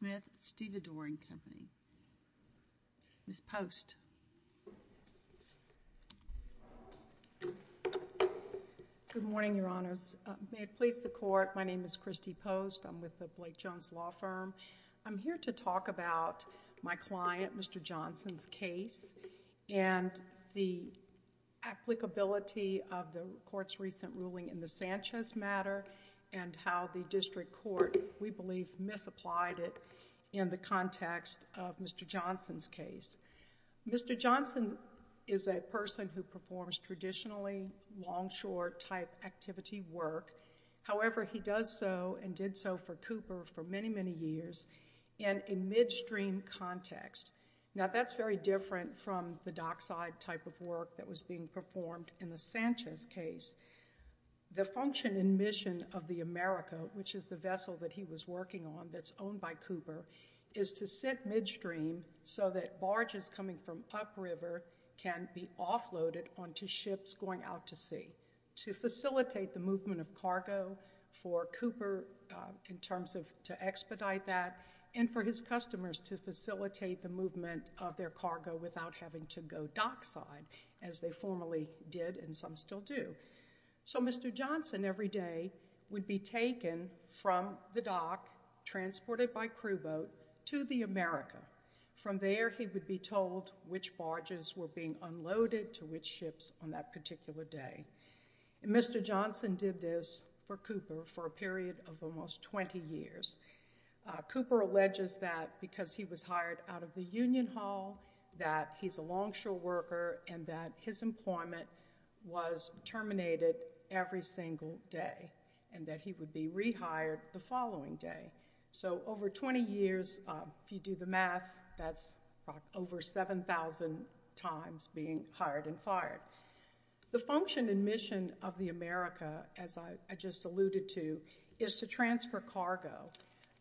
Company. Ms. Post. Good morning, Your Honors. May it please the Court, my name is Christy Post. I'm with the Blake Jones Law Firm. I'm here to talk about my client, Mr. Johnson's case and the applicability of the Court's recent ruling in the Sanchez matter and how the District Court, we believe, misapplied it in the context of Mr. Johnson's case. Mr. Johnson is a person who performs traditionally longshore-type activity work. However, he does so and did so for Cooper for many, many years in a midstream context. Now, that's very different from the dockside type of work that was being performed in the Sanchez case. The function and mission of the America, which is the vessel that he was working on that's owned by Cooper, is to sit midstream so that barges coming from upriver can be offloaded onto ships going out to sea to facilitate the movement of cargo for Cooper in terms of to expedite that and for his customers to facilitate the movement of their cargo without having to go dockside, as they formerly did and some still do. So Mr. Johnson, every day, would be taken from the dock, transported by crew boat, to the America. From there, he would be told which barges were being unloaded to which ships on that particular day. Mr. Johnson did this for Cooper for a period of almost 20 years. Cooper alleges that because he was hired out of the Union Hall, that he's a longshore worker and that his employment was terminated every single day and that he would be rehired the following day. So over 20 years, if you do the math, that's over 7,000 times being hired and fired. The function and mission of the America, as I just alluded to, is to transfer cargo.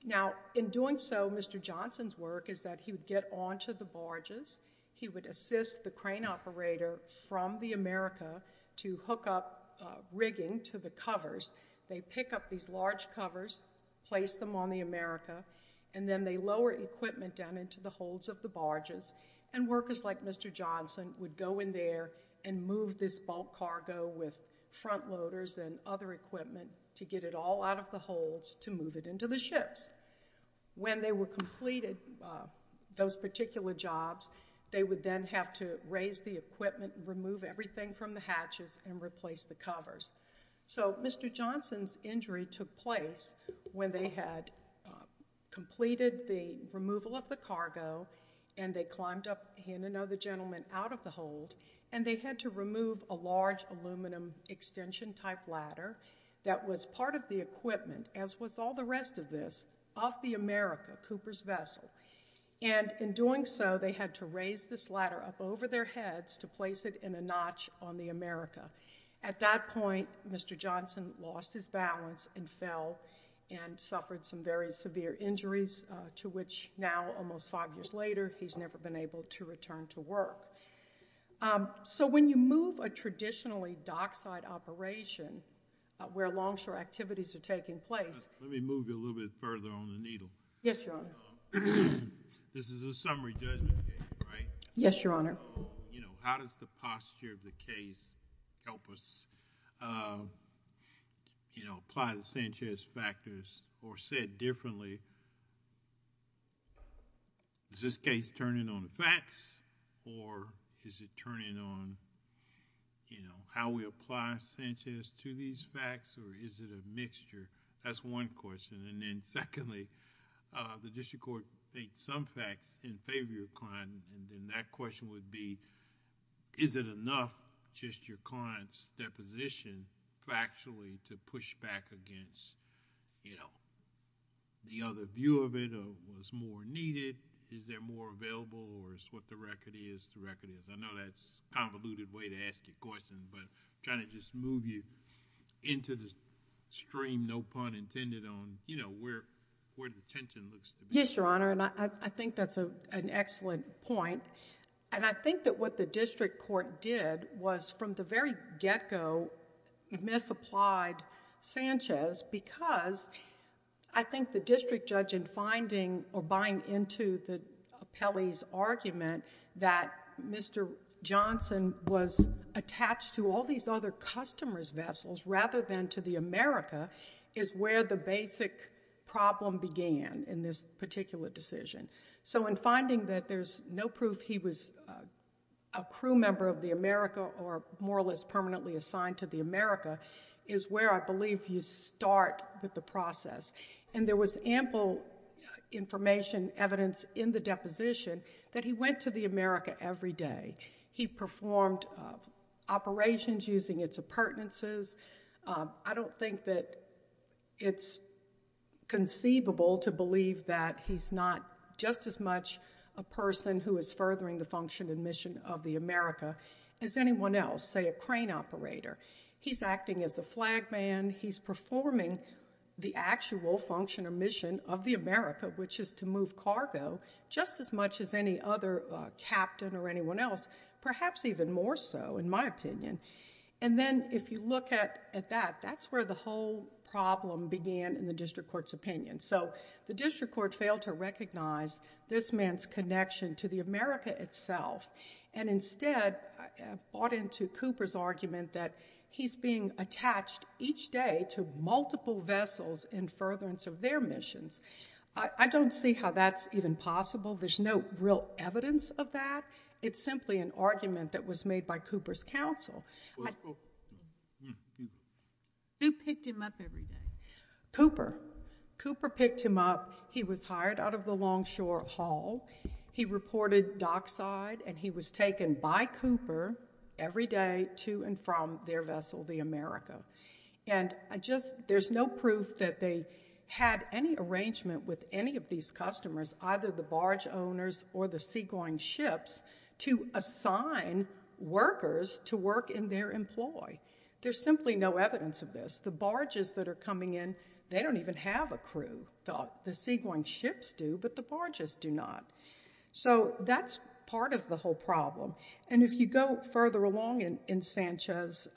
Now, in doing so, Mr. Johnson's work is that he would get onto the barges, he would assist the crane operator from the America to hook up rigging to the covers. They pick up these large covers, place them on the America, and then they lower equipment down into the holds of the barges and workers like Mr. Johnson would go in there and move this bulk cargo with front loaders and other those particular jobs. They would then have to raise the equipment, remove everything from the hatches, and replace the covers. So Mr. Johnson's injury took place when they had completed the removal of the cargo and they climbed up, he and another gentleman, out of the hold and they had to remove a large aluminum extension type ladder that was part of the equipment, as was all the rest of this, off the America, Cooper's Vessel. And in doing so, they had to raise this ladder up over their heads to place it in a notch on the America. At that point, Mr. Johnson lost his balance and fell and suffered some very severe injuries to which now, almost five years later, he's never been able to do so. How does the posture of the case help us apply the Sanchez factors or said differently? is this case turning on facts or is it turning on how we apply Sanchez to these facts or is it a mixture that's one question and then secondly the district court made some facts in favor of your client and then that question would be is it enough just your client's deposition factually to push back against you know the other view of it or was more needed is there more available or is what the record is the record is I know that's convoluted way to stream no pun intended on you know where where the tension looks yes your honor and I think that's a an excellent point and I think that what the district court did was from the very get-go misapplied Sanchez because I think the district judge in finding or buying into the Pele's argument that Mr. Johnson was attached to all these other customers vessels rather than to the America is where the basic problem began in this particular decision so in finding that there's no proof he was a crew member of the America or more or less permanently assigned to the America is where I believe you start with the process and there was ample information evidence in the deposition that he went to the America every day he performed operations using its appurtenances I don't think that it's conceivable to believe that he's not just as much a person who is furthering the function and mission of the America is anyone else say a crane operator he's acting as a flag man he's performing the actual function or mission of the America which is to move cargo just as much as any other captain or anyone else perhaps even more so in my opinion and then if you look at at that that's where the whole problem began in the district court's opinion so the district court failed to recognize this man's connection to the America itself and instead bought into Cooper's argument that he's being attached each day to multiple vessels in furtherance of their missions I don't see how that's even possible there's no real evidence of that it's simply an argument that was made by Cooper's counsel who picked him up every day Cooper Cooper picked him up he was hired out of the Longshore Hall he reported dockside and he was taken by Cooper every day to and from their vessel the America and I just there's no proof that they had any arrangement with any of these customers either the barge owners or the seagoing ships to assign workers to work in their employ there's simply no evidence of this the barges that are coming in they don't even have a crew thought the seagoing ships do but the barges do not so that's part of the whole problem and if you go further along in in Sanchez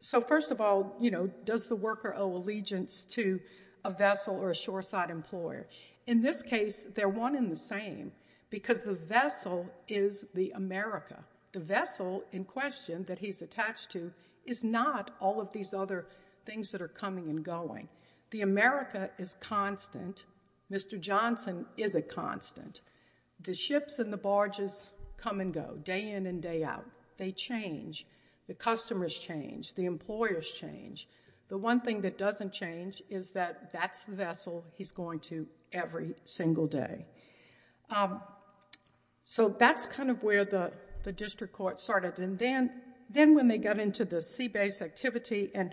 so first of all you know does the worker owe allegiance to a vessel or a shoreside employer in this case they're one in the same because the vessel is the America the vessel in question that he's attached to is not all of these other things that are coming and going the America is constant mr. Johnson is a constant the ships and the barges come and go day in and day out they change the customers change the employers change the one thing that doesn't change is that that's the vessel he's going to every single day so that's kind of where the the district court started and then then when they got into the sea base activity and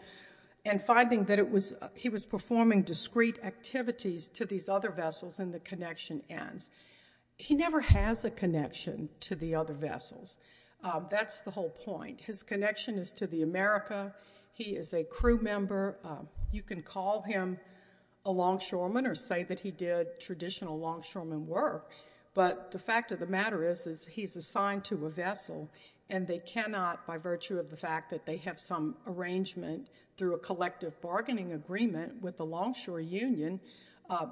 and finding that it was he was performing discreet activities to these other vessels and the connection ends he never has a connection to the other vessels that's the whole point his connection is to the America he is a crew member you can call him a longshoreman or say that he did traditional longshoremen work but the fact of the matter is is he's assigned to a vessel and they cannot by virtue of the fact that they have some arrangement through a collective bargaining agreement with the Longshore Union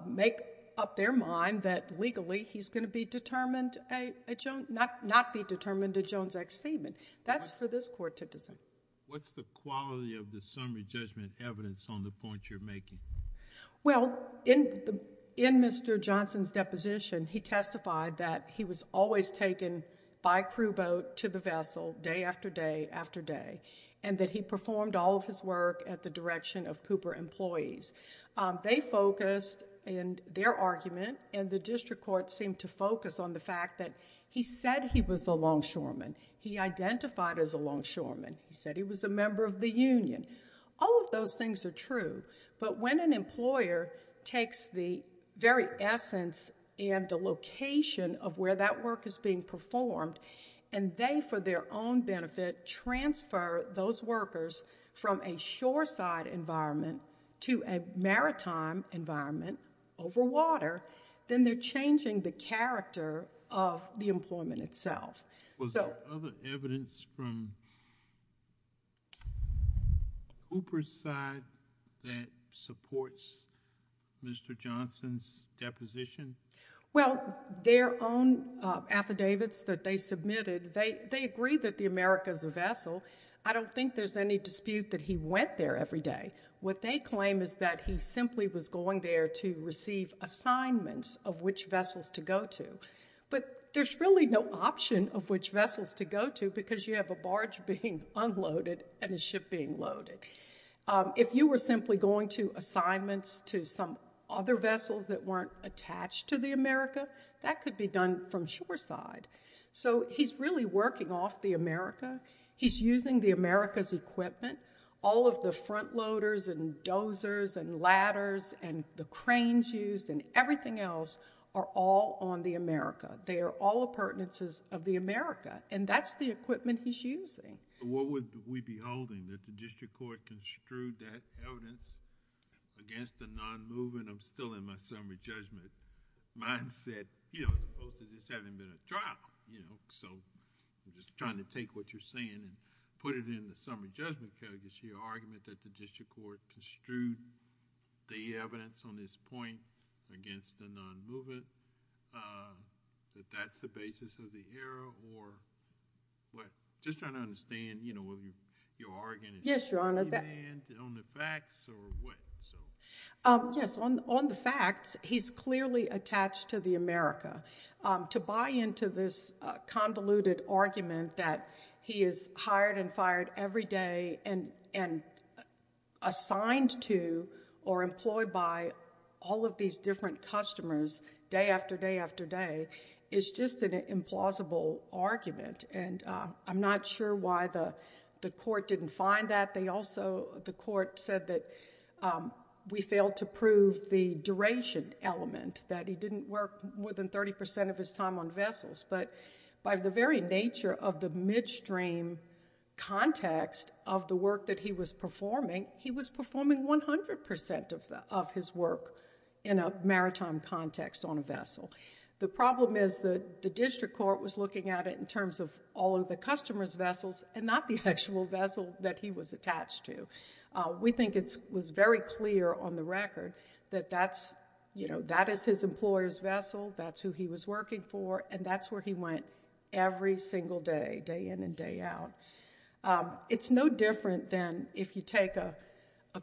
make up their mind that legally he's going to be determined a statement that's for this court to decide what's the quality of the summary judgment evidence on the point you're making well in the in mr. Johnson's deposition he testified that he was always taken by crew boat to the vessel day after day after day and that he performed all of his work at the direction of Cooper employees they focused and their argument and the district court seemed to he identified as a longshoreman he said he was a member of the Union all of those things are true but when an employer takes the very essence and the location of where that work is being performed and they for their own benefit transfer those workers from a shoreside environment to a maritime environment over water then they're changing the character of the employment itself so evidence from Cooper's side that supports mr. Johnson's deposition well their own affidavits that they submitted they they agree that the Americas a vessel I don't think there's any dispute that he went there every day what they claim is that he simply was going there to receive assignments of which vessels to go to but there's really no option of which vessels to go to because you have a barge being unloaded and a ship being loaded if you were simply going to assignments to some other vessels that weren't attached to the America that could be done from shoreside so he's really working off the America he's using the Americas equipment all of the front loaders and everything else are all on the America they are all appurtenances of the America and that's the equipment he's using what would we be holding that the district court construed that evidence against the non-movement I'm still in my summary judgment mindset you know this having been a trial you know so I'm just trying to take what you're saying and put it in the summary judgment argument that the district court construed the evidence on this point against the non-movement that that's the basis of the era or what just trying to understand you know whether you are yes your honor that on the facts or what yes on the facts he's clearly attached to the America to into this convoluted argument that he is hired and fired every day and and assigned to or employed by all of these different customers day after day after day it's just an implausible argument and I'm not sure why the the court didn't find that they also the court said that we failed to prove the duration element that he didn't work more than 30% of his time on vessels but by the very nature of the midstream context of the work that he was performing he was performing 100% of his work in a maritime context on a vessel the problem is that the district court was looking at it in terms of all of the customers vessels and not the actual vessel that he was attached to we think it was very clear on the record that that's you know that is his employers vessel that's who he was working for and that's where he went every single day day in and day out it's no different than if you take a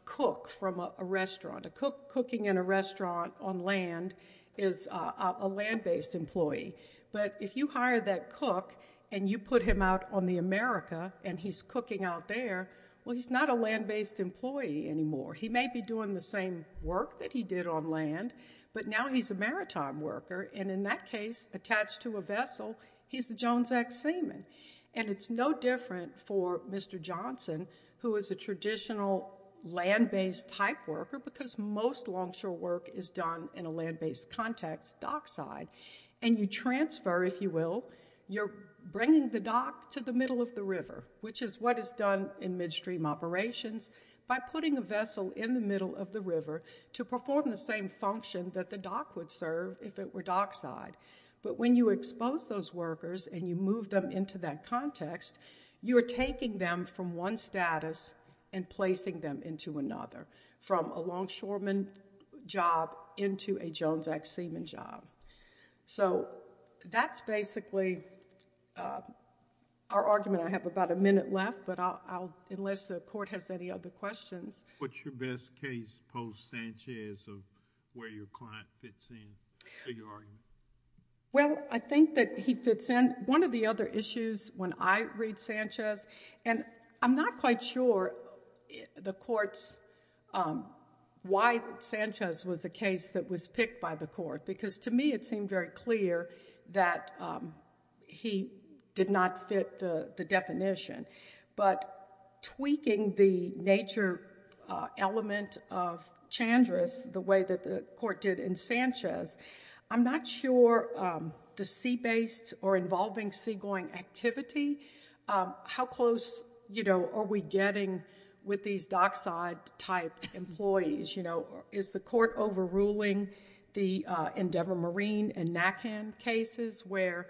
cook from a restaurant a cook cooking in a restaurant on land is a land-based employee but if you hired that cook and you put him out on the America and he's cooking out there well he's not a land-based employee anymore he may be doing the same work that he did on land but now he's a maritime worker and in that case attached to a vessel he's the Jones ex-seaman and it's no different for mr. Johnson who is a traditional land-based type worker because most longshore work is done in a land-based context dockside and you transfer if you will you're bringing the dock to the middle of the river which is what is done in midstream operations by putting a vessel in the middle of the river to perform the same function that the dock would serve if it were dockside but when you expose those workers and you move them into that context you are taking them from one status and placing them into another from a longshoreman job into a Jones ex-seaman job so that's basically our argument I have about a minute left but I'll unless the court has any other questions what's your best case post Sanchez of where your client fits in well I think that he fits in one of the other issues when I read Sanchez and I'm not quite sure the courts why Sanchez was a case that was picked by the court because to me it seemed very clear that he did not fit the definition but tweaking the nature element of Chandra's the way that the court did in Sanchez I'm not sure the sea based or involving seagoing activity how close you know are we getting with these dockside type employees you know is the court overruling the Endeavor Marine and NACAN cases where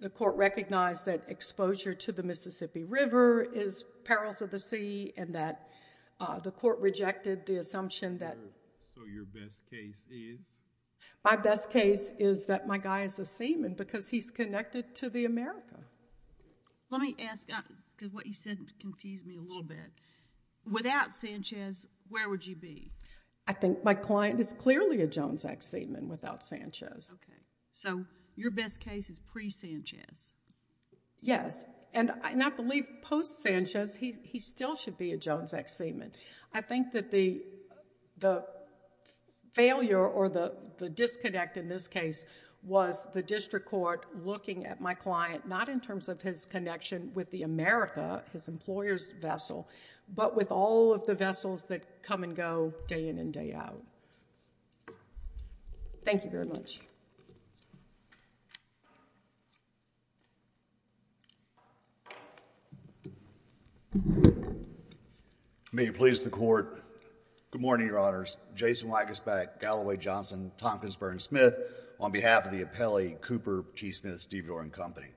the court recognized that exposure to the Mississippi River is perils of the sea and that the court rejected the assumption that my best case is that my guy is a seaman because he's connected to the America let me ask because what you said confused me a little bit without Sanchez where would you be I think my client is clearly a Jones ex-seaman without Sanchez okay so your best case is pre Sanchez yes and I not believe post Sanchez he still should be a Jones ex-seaman I think that the the failure or the the disconnect in this case was the district court looking at my client not in terms of his connection with the America his employers vessel but with all of the vessels that come and go day in and day out thank you very much may you please the court good morning your honors Jason Wagusback Galloway Johnson Tompkins Burns Smith on behalf of the appellee Cooper T Smith Steve Doran company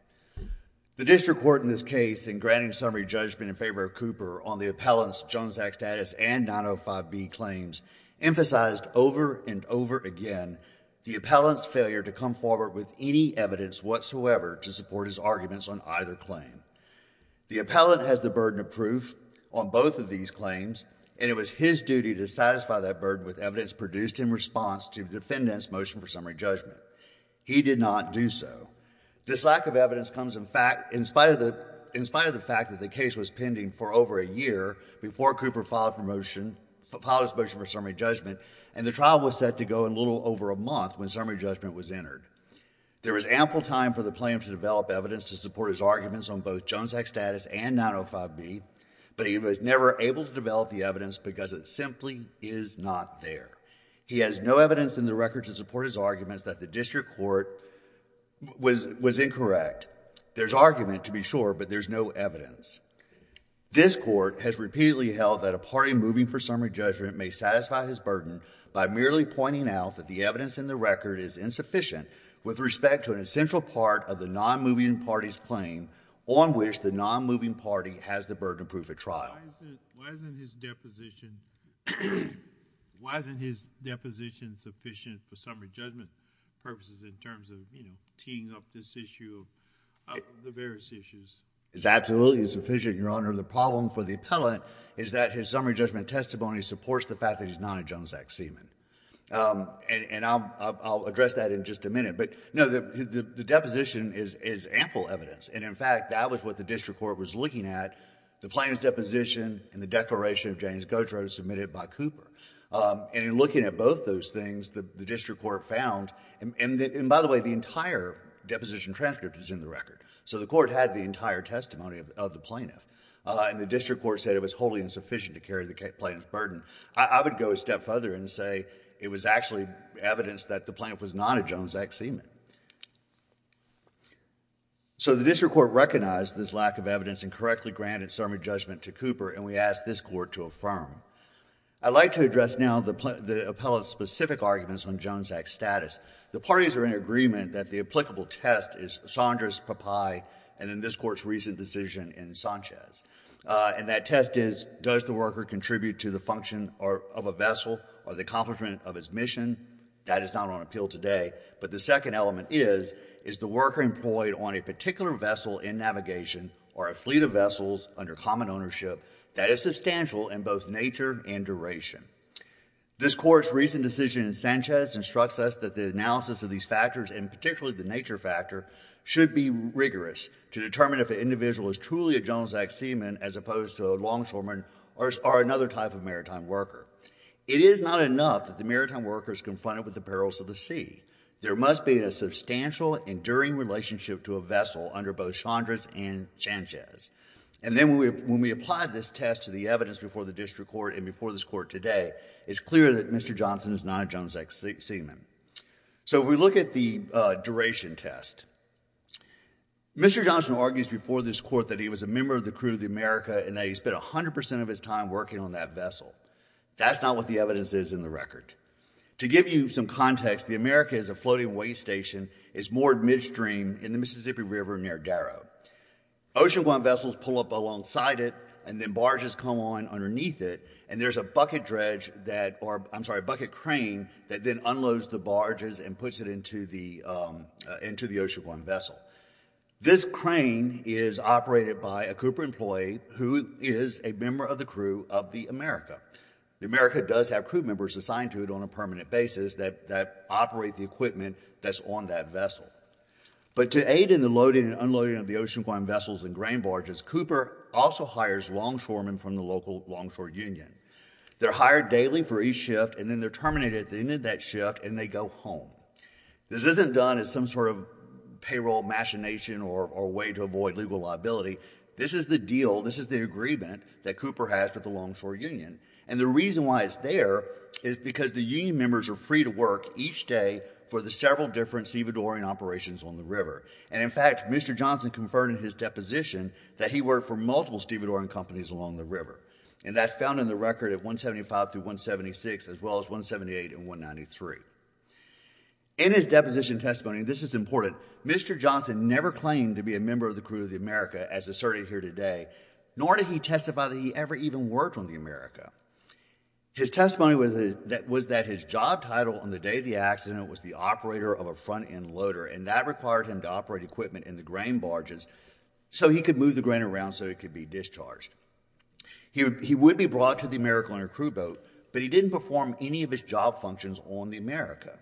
the district court in this case in granting summary judgment in favor of Cooper on the appellants Jones act status and 905 B claims emphasized over and over again the appellants failure to come forward with any evidence whatsoever to support his arguments on either claim the appellant has the burden of proof on both of these claims and it was his duty to satisfy that burden with evidence produced in response to defendants motion for summary judgment he did not do so this lack of evidence comes in fact in spite of the in spite of the fact that the case was pending for over a year before Cooper filed promotion follows motion for summary judgment and the trial was set to go in little over a month when summary judgment was entered there was ample time for the plan to develop evidence to support his arguments on both Jones act status and 905 B but was never able to develop the evidence because it simply is not there he has no evidence in the record to support his arguments that the district court was was incorrect there's argument to be sure but there's no evidence this court has repeatedly held that a party moving for summary judgment may satisfy his burden by merely pointing out that the evidence in the record is insufficient with respect to an essential part of the non-moving parties claim on which the non-moving party has the burden of proof at trial why isn't his deposition why isn't his deposition sufficient for summary judgment purposes in terms of you know teeing up this issue the various issues is absolutely sufficient your honor the problem for the appellant is that his summary judgment testimony supports the fact that he's not a Jones act seaman and I'll address that in just a minute but no the deposition is is ample evidence and in fact that was what the district court was looking at the plaintiff's deposition and the declaration of James Gautreaux submitted by Cooper and in looking at both those things the district court found and by the way the entire deposition transcript is in the record so the court had the entire testimony of the plaintiff and the district court said it was wholly insufficient to carry the plaintiff's burden I would go a step further and say it was actually evidence that the plaintiff was not a Jones act seaman so the district court recognized this lack of evidence and correctly granted summary judgment to Cooper and we asked this court to affirm I'd like to address now the appellant's specific arguments on Jones act status the parties are in agreement that the applicable test is Sondra's papaya and in this court's recent decision in Sanchez and that test is does the worker contribute to the function or of a vessel or the accomplishment of his mission that is not on appeal today but the second element is is the worker employed on a particular vessel in navigation or a fleet of vessels under common ownership that is substantial in both nature and duration this court's recent decision in Sanchez instructs us that the analysis of these factors and particularly the nature factor should be rigorous to determine if an individual is truly a Jones act seaman as opposed to a longshoreman or another type of maritime worker it is not enough that the maritime workers confronted with the perils of the sea there must be a substantial enduring relationship to a vessel under both Sondra's and Sanchez and then when we applied this test to the evidence before the district court and before this court today it's clear that mr. Johnson is not a Jones act seaman so we look at the duration test mr. Johnson argues before this court that he was a member of the crew of the America and that he spent a hundred percent of his time working on that vessel that's not what the evidence is in the record to give you some context the America is a floating weight station is moored midstream in the Mississippi River near Darrow ocean one vessels pull up alongside it and then barges come on underneath it and there's a bucket dredge that or I'm sorry bucket crane that then unloads the barges and puts it into the into the ocean one vessel this crane is operated by a Cooper who is a member of the crew of the America the America does have crew members assigned to it on a permanent basis that that operate the equipment that's on that vessel but to aid in the loading and unloading of the ocean one vessels and grain barges Cooper also hires longshoremen from the local longshore union they're hired daily for each shift and then they're terminated at the end of that shift and they go home this isn't done as some sort of payroll machination or way to avoid legal liability this is the deal this is the agreement that Cooper has with the longshore union and the reason why it's there is because the union members are free to work each day for the several different stevedore and operations on the river and in fact mr. Johnson confirmed in his deposition that he worked for multiple stevedore and companies along the river and that's found in the record at 175 to 176 as well as 178 and 193 in his deposition testimony this is important mr. Johnson never claimed to be a member of the crew of the America as asserted here today nor did he testify that he ever even worked on the America his testimony was that was that his job title on the day of the accident was the operator of a front-end loader and that required him to operate equipment in the grain barges so he could move the grain around so it could be discharged here he would be brought to the America on a crew boat but he didn't perform any of his job functions on the America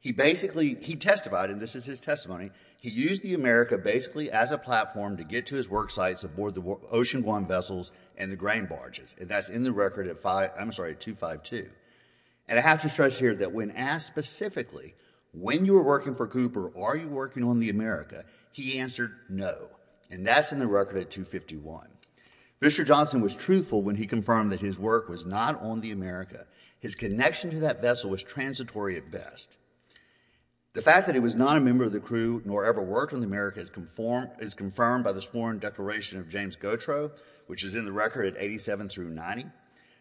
he basically he testified and this is his testimony he used the America basically as a platform to get to his work sites aboard the ocean one vessels and the grain barges and that's in the record at five I'm sorry two five two and I have to stretch here that when asked specifically when you were working for Cooper are you working on the America he answered no and that's in the record at 251 mr. Johnson was truthful when he confirmed that his work was not on the America his connection to that vessel was transitory at best the fact that he was not a member of the crew nor ever worked on the America is conformed is confirmed by the sworn declaration of James Gautreaux which is in the record at 87 through 90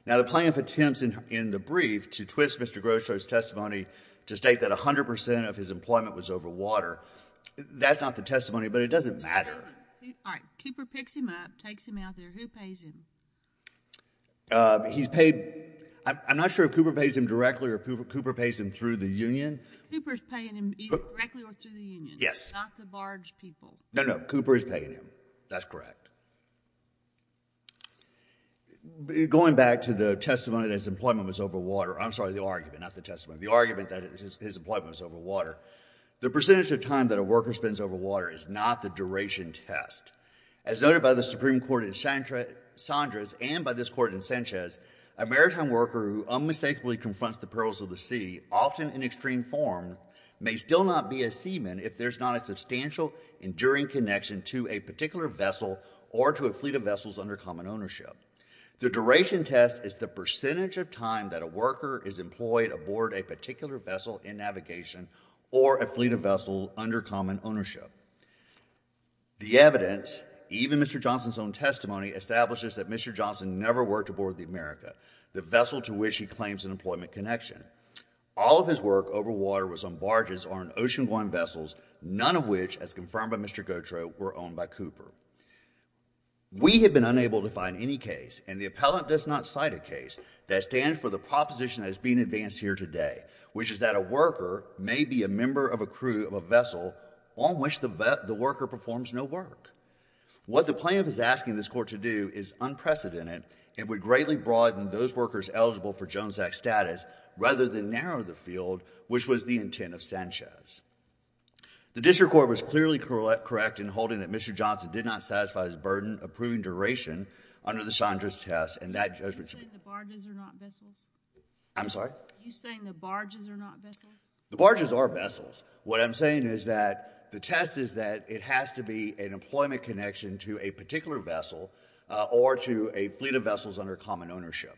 now the plaintiff attempts in in the brief to twist mr. Grosz shows testimony to state that a hundred percent of his employment was over water that's not the testimony but it doesn't matter Cooper picks him up takes him out there he's paid I'm not sure Cooper pays him directly or Cooper Cooper pays him through the Union yes no no Cooper is paying him that's correct going back to the testimony that his employment was over water I'm sorry the argument not the testimony of the argument that his employment was over water the percentage of time that a worker spends over water is not the duration test as noted by the Supreme Court in Sandra's and by this court in Sanchez a maritime worker who unmistakably confronts the perils of the sea often in extreme form may still not be a seaman if there's not a substantial enduring connection to a particular vessel or to a fleet of vessels under common ownership the duration test is the percentage of time that a worker is employed aboard a particular vessel in navigation or a fleet of vessel under common ownership the evidence even mr. Johnson's own testimony establishes that mr. Johnson never worked aboard the America the vessel to which he claims an employment connection all of his work over water was on barges or an ocean going vessels none of which as confirmed by mr. Gautreaux were owned by Cooper we have been unable to find any case and the appellant does not cite a case that stands for the proposition that is being advanced here today which is that a worker may be a member of a crew of a vessel on which the vet the worker performs no work what the plaintiff is asking this court to do is unprecedented and would greatly broaden those workers eligible for Jones act status rather than narrow the field which was the intent of Sanchez the district court was clearly correct correct in holding that mr. Johnson did not satisfy his burden approving duration under the Chandra's test and that I'm sorry you saying the barges are not the barges are vessels what I'm saying is that the test is that it has to be an employment connection to a particular vessel or to a fleet of vessels under common ownership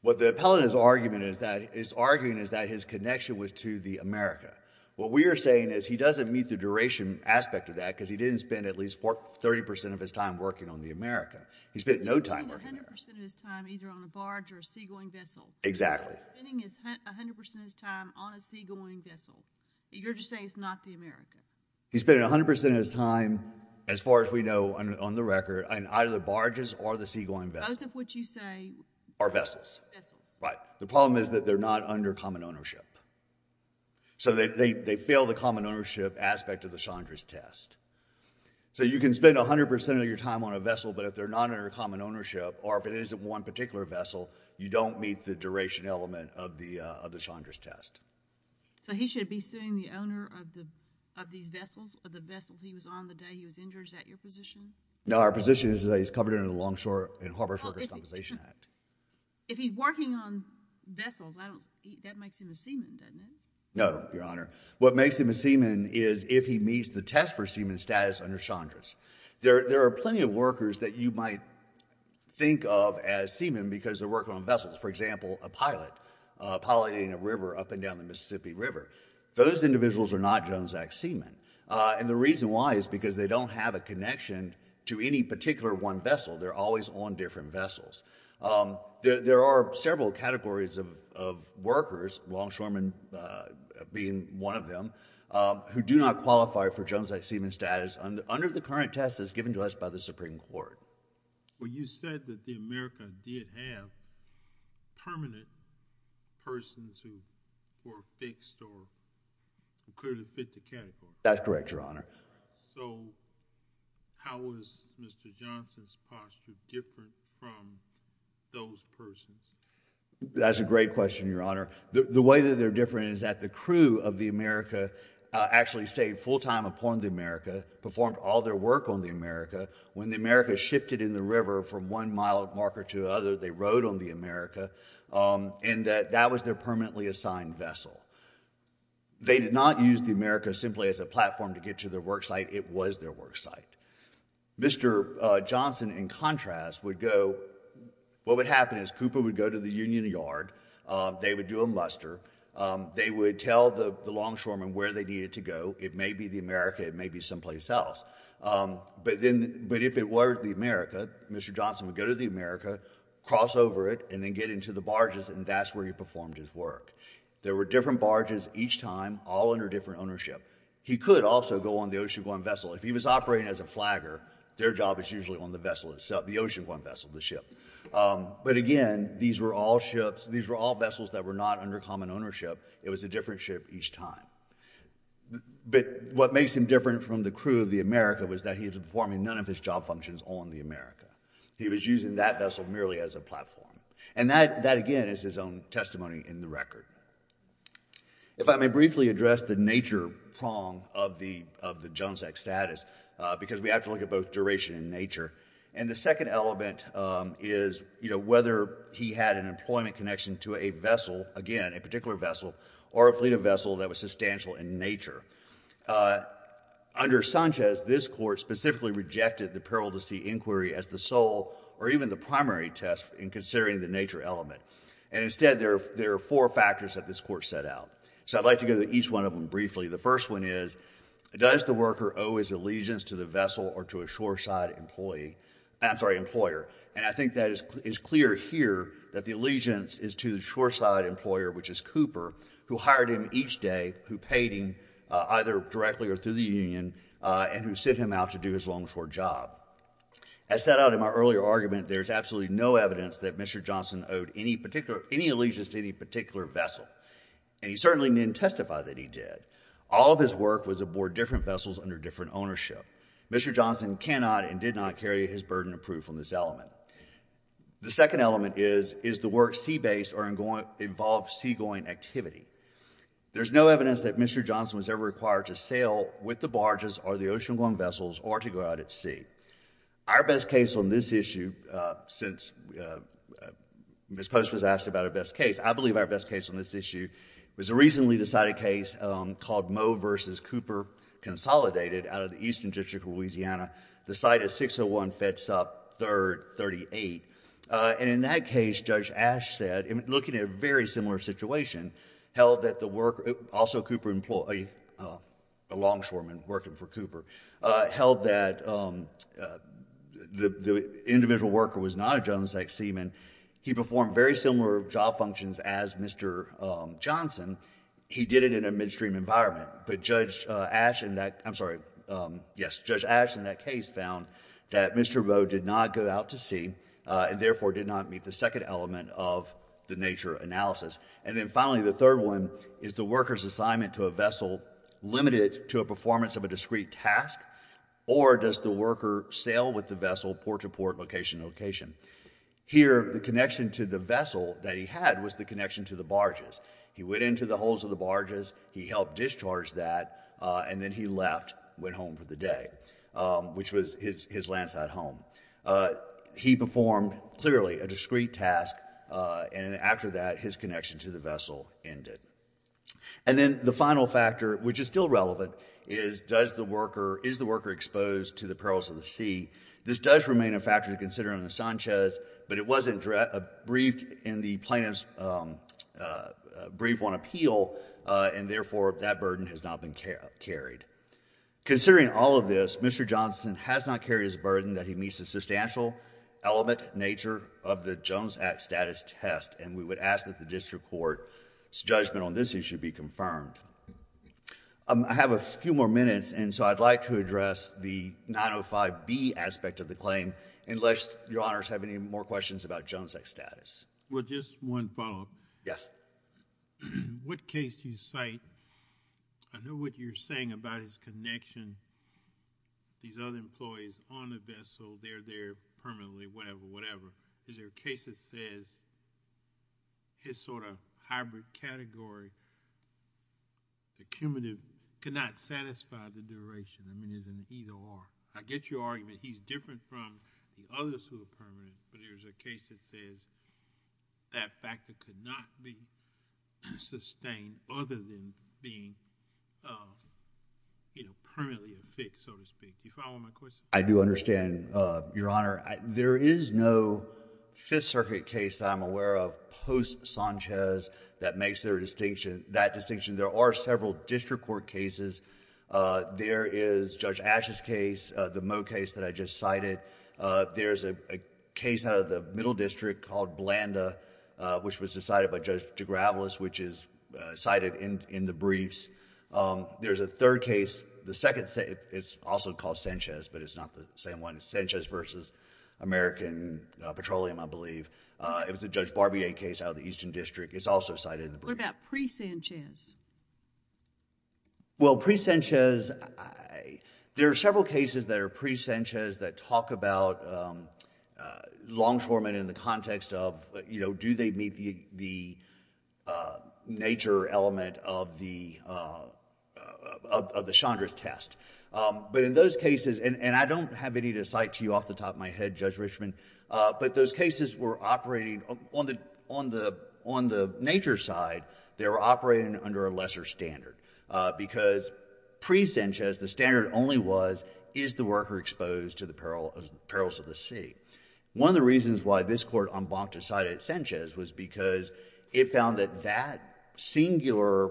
what the appellant is argument is that is arguing is that his connection was to the America what we are saying is he doesn't meet the duration aspect of that because he didn't spend at least for 30% of his time working on the America he spent no time either on a barge or a seagoing vessel exactly 100% of his time on a seagoing vessel you're just saying it's not the America he's been 100% of his time as far as we know and on the record and either the barges or the seagoing both of which you say our vessels but the problem is that they're not under common ownership so that they fail the common ownership aspect of the Chandra's test so you can spend a hundred percent of your time on a vessel but if they're not under common ownership or if it isn't one particular vessel you don't meet the duration element of the other Chandra's test so he should be sitting the owner of the of these vessels of the vessel he was on the day he was injured at your position now our position is that he's covered in a longshore and harbors conversation act if he's no your honor what makes him a seaman is if he meets the test for seaman status under Chandra's there there are plenty of workers that you might think of as seaman because they're working on vessels for example a pilot piloting a river up and down the Mississippi River those individuals are not Jones act seaman and the reason why is because they don't have a connection to any or several categories of workers longshoremen being one of them who do not qualify for Jones like seaman status under the current test is given to us by the Supreme Court well you said that the America did have permanent persons who were fixed or that's correct your honor that's a great question your honor the way that they're different is that the crew of the America actually stayed full-time upon the America performed all their work on the America when the America shifted in the river from one mile marker to other they rode on the America and that that was their permanently assigned vessel they did not use the America simply as a platform to get to their work site it was their work site mr. Johnson in contrast would go what would happen is Cooper would go to the Union Yard they would do a muster they would tell the longshoremen where they needed to go it may be the America it may be someplace else but then but if it were the America mr. Johnson would go to the America cross over it and then get into the barges and that's where he performed his work there were different barges each time all under different ownership he could also go on the ocean one vessel if he was operating as a flagger their job is usually on the vessel itself the ocean one vessel the ship but again these were all ships these were all vessels that were not under common ownership it was a different ship each time but what makes him different from the crew of the America was that he was performing none of his job functions on the America he was using that vessel merely as a platform and that that again is his own testimony in the record if I may briefly address the nature prong of the of the Jones act status because we have to look at both duration in nature and the second element is you know whether he had an employment connection to a vessel again a particular vessel or a fleet of vessel that was substantial in nature under Sanchez this court specifically rejected the peril to see inquiry as the sole or instead there there are four factors that this court set out so I'd like to go to each one of them briefly the first one is does the worker owe his allegiance to the vessel or to a shoreside employee I'm sorry employer and I think that is clear here that the allegiance is to the shoreside employer which is Cooper who hired him each day who paid him either directly or through the Union and who sent him out to do his longshore job as set out in my earlier argument there's particular any allegiance to any particular vessel and he certainly didn't testify that he did all of his work was aboard different vessels under different ownership mr. Johnson cannot and did not carry his burden of proof from this element the second element is is the work sea-based or in going involved seagoing activity there's no evidence that mr. Johnson was ever required to sail with the barges or the ocean long vessels or to go out at sea our best case on this issue since miss post was asked about her best case I believe our best case on this issue was a recently decided case called Moe versus Cooper consolidated out of the eastern district of Louisiana the site is 601 Feds up third 38 and in that case judge ash said I'm looking at a very similar situation held that the work also Cooper employee a longshoreman working for Cooper held that the individual worker was not a Jones like seaman he performed very similar job functions as mr. Johnson he did it in a midstream environment but judge ash and that I'm sorry yes judge ash in that case found that mr. bow did not go out to sea and therefore did not meet the second element of the nature analysis and then finally the third one is the workers assignment to a vessel limited to a performance of a discrete task or does the worker sail with the vessel port to port location location here the connection to the vessel that he had was the connection to the barges he went into the holes of the barges he helped discharge that and then he left went home for the day which was his landsat home he performed clearly a discrete task and after that his connection to the vessel ended and then the final factor which is still relevant is does the worker is the worker exposed to the perils of the sea this does remain a factor to consider on the Sanchez but it wasn't a briefed in the plaintiff's brief one appeal and therefore that burden has not been carried considering all of this mr. Johnson has not carried his burden that he meets a substantial element nature of the Jones Act status test and we would ask that the district court its judgment on this issue be confirmed I have a few more minutes and so I'd like to address the 905 B aspect of the claim unless your honors have any more questions about Jones X status well just one follow-up yes what case you cite I know what you're saying about his connection these other employees on the vessel they're there permanently whatever whatever is there a case that says his sort of hybrid category the cumulative could not satisfy the duration I mean isn't either or I get your argument he's different from the others who are permanent but I do understand your honor there is no Fifth Circuit case I'm aware of post Sanchez that makes their distinction that distinction there are several district court cases there is judge ashes case the mo case that I just cited there's a case out of the middle district called Blanda which was decided by judge DeGravelis which is cited in the briefs there's a third case the second say it's also called Sanchez but it's not the same one Sanchez versus American Petroleum I believe it was a judge Barbier case out of the Eastern District it's also cited in the pre Sanchez well pre Sanchez I there are several cases that are pre Sanchez that talk about longshoremen in the context of you know do they meet the nature element of the of the Chandra's test but in those cases and and I don't have any to cite to you off the top my head judge Richmond but those cases were operating on the on the on the nature side they were operating under a lesser standard because pre Sanchez the standard only was is the worker exposed to the peril of perils of the sea one of the reasons why this court on block decided Sanchez was because it found that that singular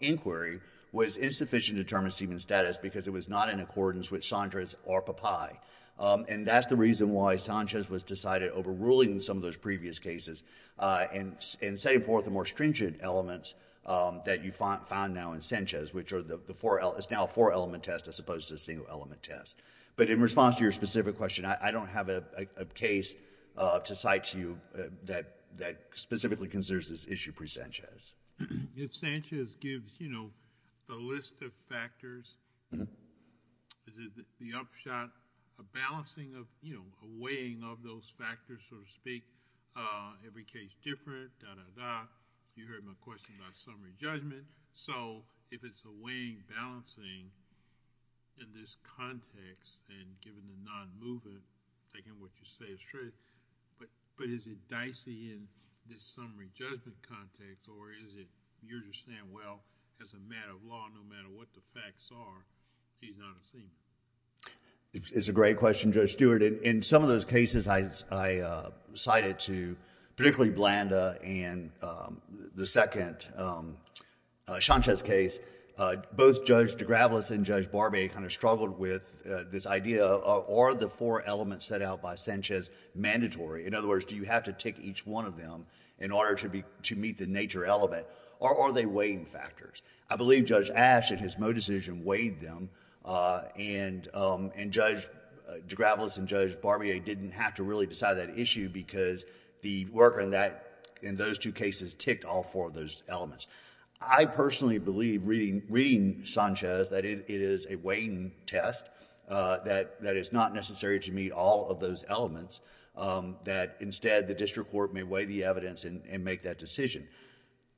inquiry was insufficient to determine semen status because it was not in accordance with Sondra's or papaya and that's the reason why Sanchez was decided overruling some of those previous cases and in saying for the more stringent elements that you find found now in Sanchez which are the four L is now for element test as opposed to a single element test but in response to your specific question I don't have a case to cite to you that that specifically considers this issue pre Sanchez it Sanchez gives you know a list of factors is it the upshot a balancing of you know a weighing of those factors so to speak every case different you heard my question about summary judgment so if it's a weighing balancing in this context and given the non-movement taking what you say is true but but is it dicey in this summary judgment context or is it you understand well as a matter of law no matter what the facts are he's not a scene it's a great question judge Stewart in some of those and judge Barbier kind of struggled with this idea or the four elements set out by Sanchez mandatory in other words do you have to take each one of them in order to be to meet the nature element or are they weighing factors I believe judge ash at his mo decision weighed them and and judge de gravelous and judge Barbier didn't have to really decide that issue because the worker in that in those two cases ticked off for those elements I believe that it is a weighing test that that is not necessary to meet all of those elements that instead the district court may weigh the evidence and make that decision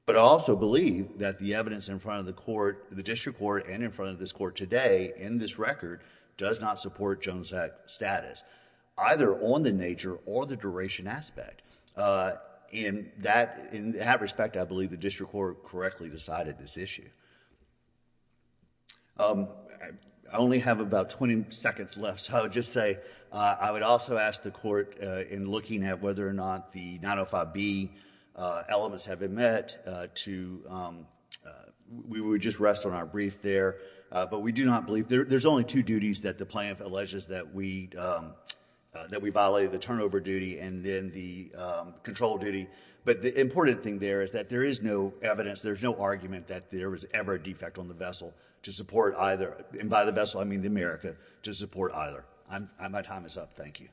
but also believe that the evidence in front of the court the district court and in front of this court today in this record does not support Jones act status either on the nature or the duration aspect in that in that respect I believe the district court correctly decided this issue I only have about 20 seconds left so I would just say I would also ask the court in looking at whether or not the 905 be elements have been met to we would just rest on our brief there but we do not believe there's only two duties that the plaintiff alleges that we that we violated the turnover duty and then the control duty but the important thing there is that there is no evidence there's no argument that there was ever defect on the vessel to support either in by the vessel I mean the America to support either I'm I'm a Thomas up thank you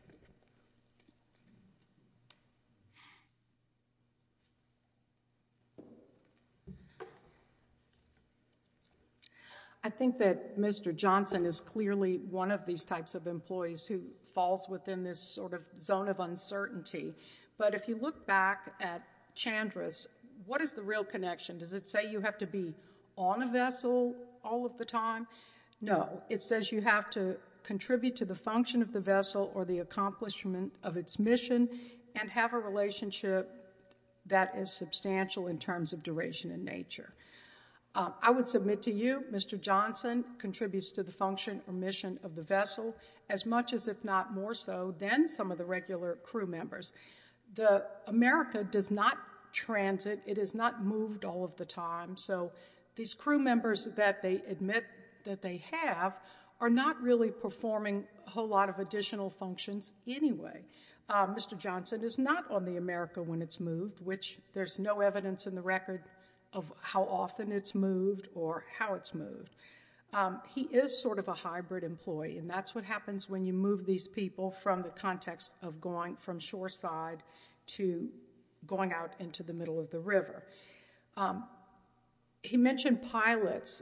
I think that Mr. Johnson is clearly one of these types of employees who falls within this sort of zone of uncertainty but if you look back at chandra's what is the real connection does it say you have to be on a vessel all of the time no it says you have to contribute to the function of the vessel or the accomplishment of its mission and have a relationship that is substantial in terms of duration in nature I would submit to you Mr. Johnson contributes to the function or mission of the vessel as does not transit it is not moved all of the time so these crew members that they admit that they have are not really performing a whole lot of additional functions anyway Mr. Johnson is not on the America when it's moved which there's no evidence in the record of how often it's moved or how it's moved he is sort of a hybrid employee and that's what going out into the middle of the river he mentioned pilots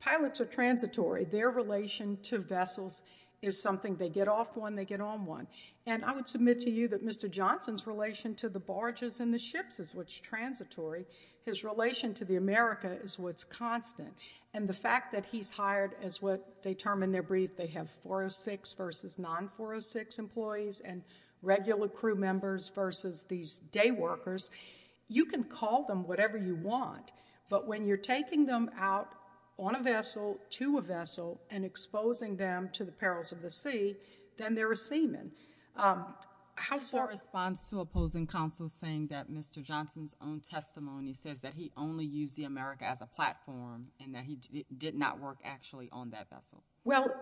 pilots are transitory their relation to vessels is something they get off one they get on one and I would submit to you that Mr. Johnson's relation to the barges and the ships is which transitory his relation to the America is what's constant and the fact that he's hired as what they term in their brief they have 406 versus non 406 employees and regular crew members versus these day workers you can call them whatever you want but when you're taking them out on a vessel to a vessel and exposing them to the perils of the sea then they're a seaman how far responds to opposing counsel saying that Mr. Johnson's own testimony says that he only used the America as a platform and that he did not work actually on that vessel well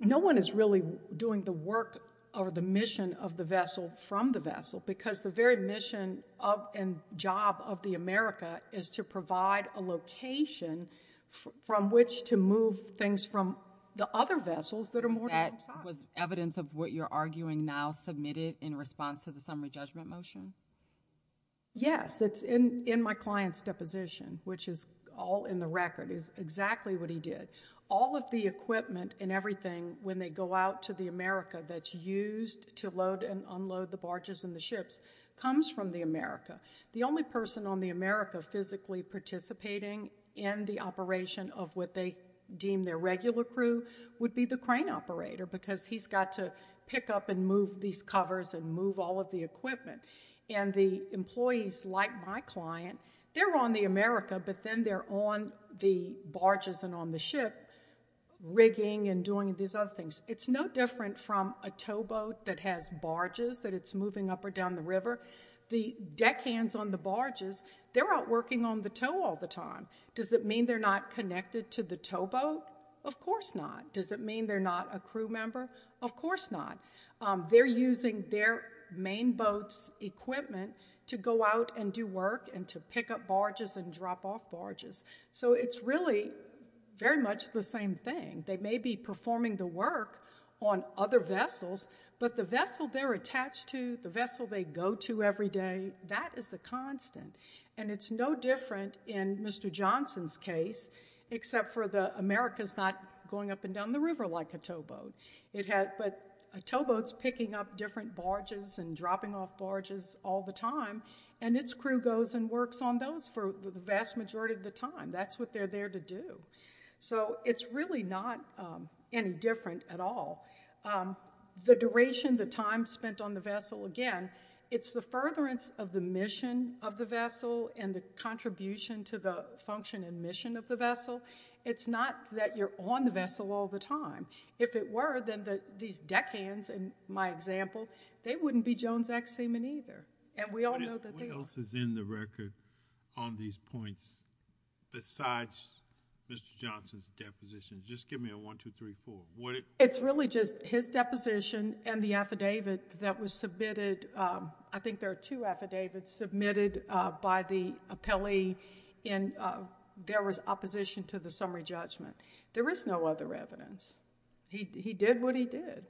no one is really doing the work or the mission of the vessel from the vessel because the very mission of and job of the America is to provide a location from which to move things from the other vessels that are more that was evidence of what you're arguing now submitted in response to the summary judgment motion yes it's in in my client's deposition which is all in the record is exactly what he did all of the equipment and everything when they go out to the America that's used to load and unload the barges and the ships comes from the America the only person on the America physically participating in the operation of what they deem their regular crew would be the crane operator because he's got to pick up and move these covers and move all of the equipment and the employees like my client they're on the America but then they're on the barges and on the ship rigging and doing these other things it's no different from a towboat that has barges that it's moving up or down the river the deckhands on the barges they're out working on the tow all the time does it mean they're not connected to the towboat of course not does it mean they're not a crew member of course not they're using their main boats equipment to go out and do work and to pick up barges and drop off barges so it's really very much the same thing they may be performing the work on other vessels but the vessel they're attached to the vessel they go to every day that is a constant and it's no different in mr. Johnson's case except for the America's not going up and down the river like a towboat it had but a towboats picking up different barges and dropping off barges all the time and its crew goes and works on those for the vast majority of the time that's what they're there to do so it's really not any different at all the duration the time spent on the vessel again it's the furtherance of the mission of the vessel and the contribution to the function and mission of the vessel it's not that you're on the vessel all the time if it were then that these deckhands in my example they wouldn't be Jones X seamen either and we all know that else is in the record on these points besides mr. Johnson's deposition just give me a one two three four what it's really just his deposition and the affidavit that was submitted I think there are two affidavits submitted by the appellee in there was opposition to the summary judgment there is no other evidence he did what he did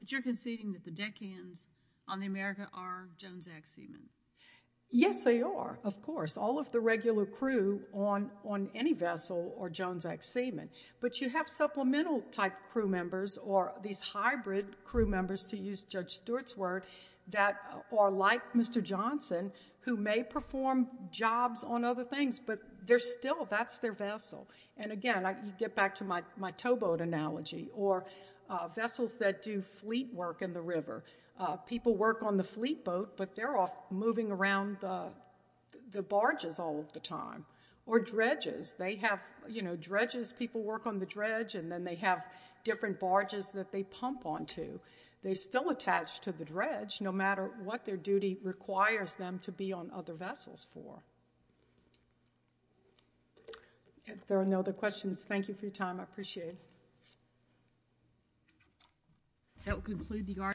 but you're conceding that the deckhands on the America are Jones X semen yes they are of course all of the regular crew on on any vessel or Jones X semen but you have supplemental type crew members or these hybrid crew members to use judge Stewart's word that are like mr. Johnson who may perform jobs on other things but they're still that's their vessel and again I get back to my my towboat analogy or vessels that do fleet work in the river people work on the fleet boat but they're off moving around the barges all of the time or dredges they have you know dredges people work on the dredge and then they have different barges that they pump on to they still attached to the dredge no matter what their duty requires them to be on other vessels for if there are no other questions thank you for your time I appreciate that will conclude the art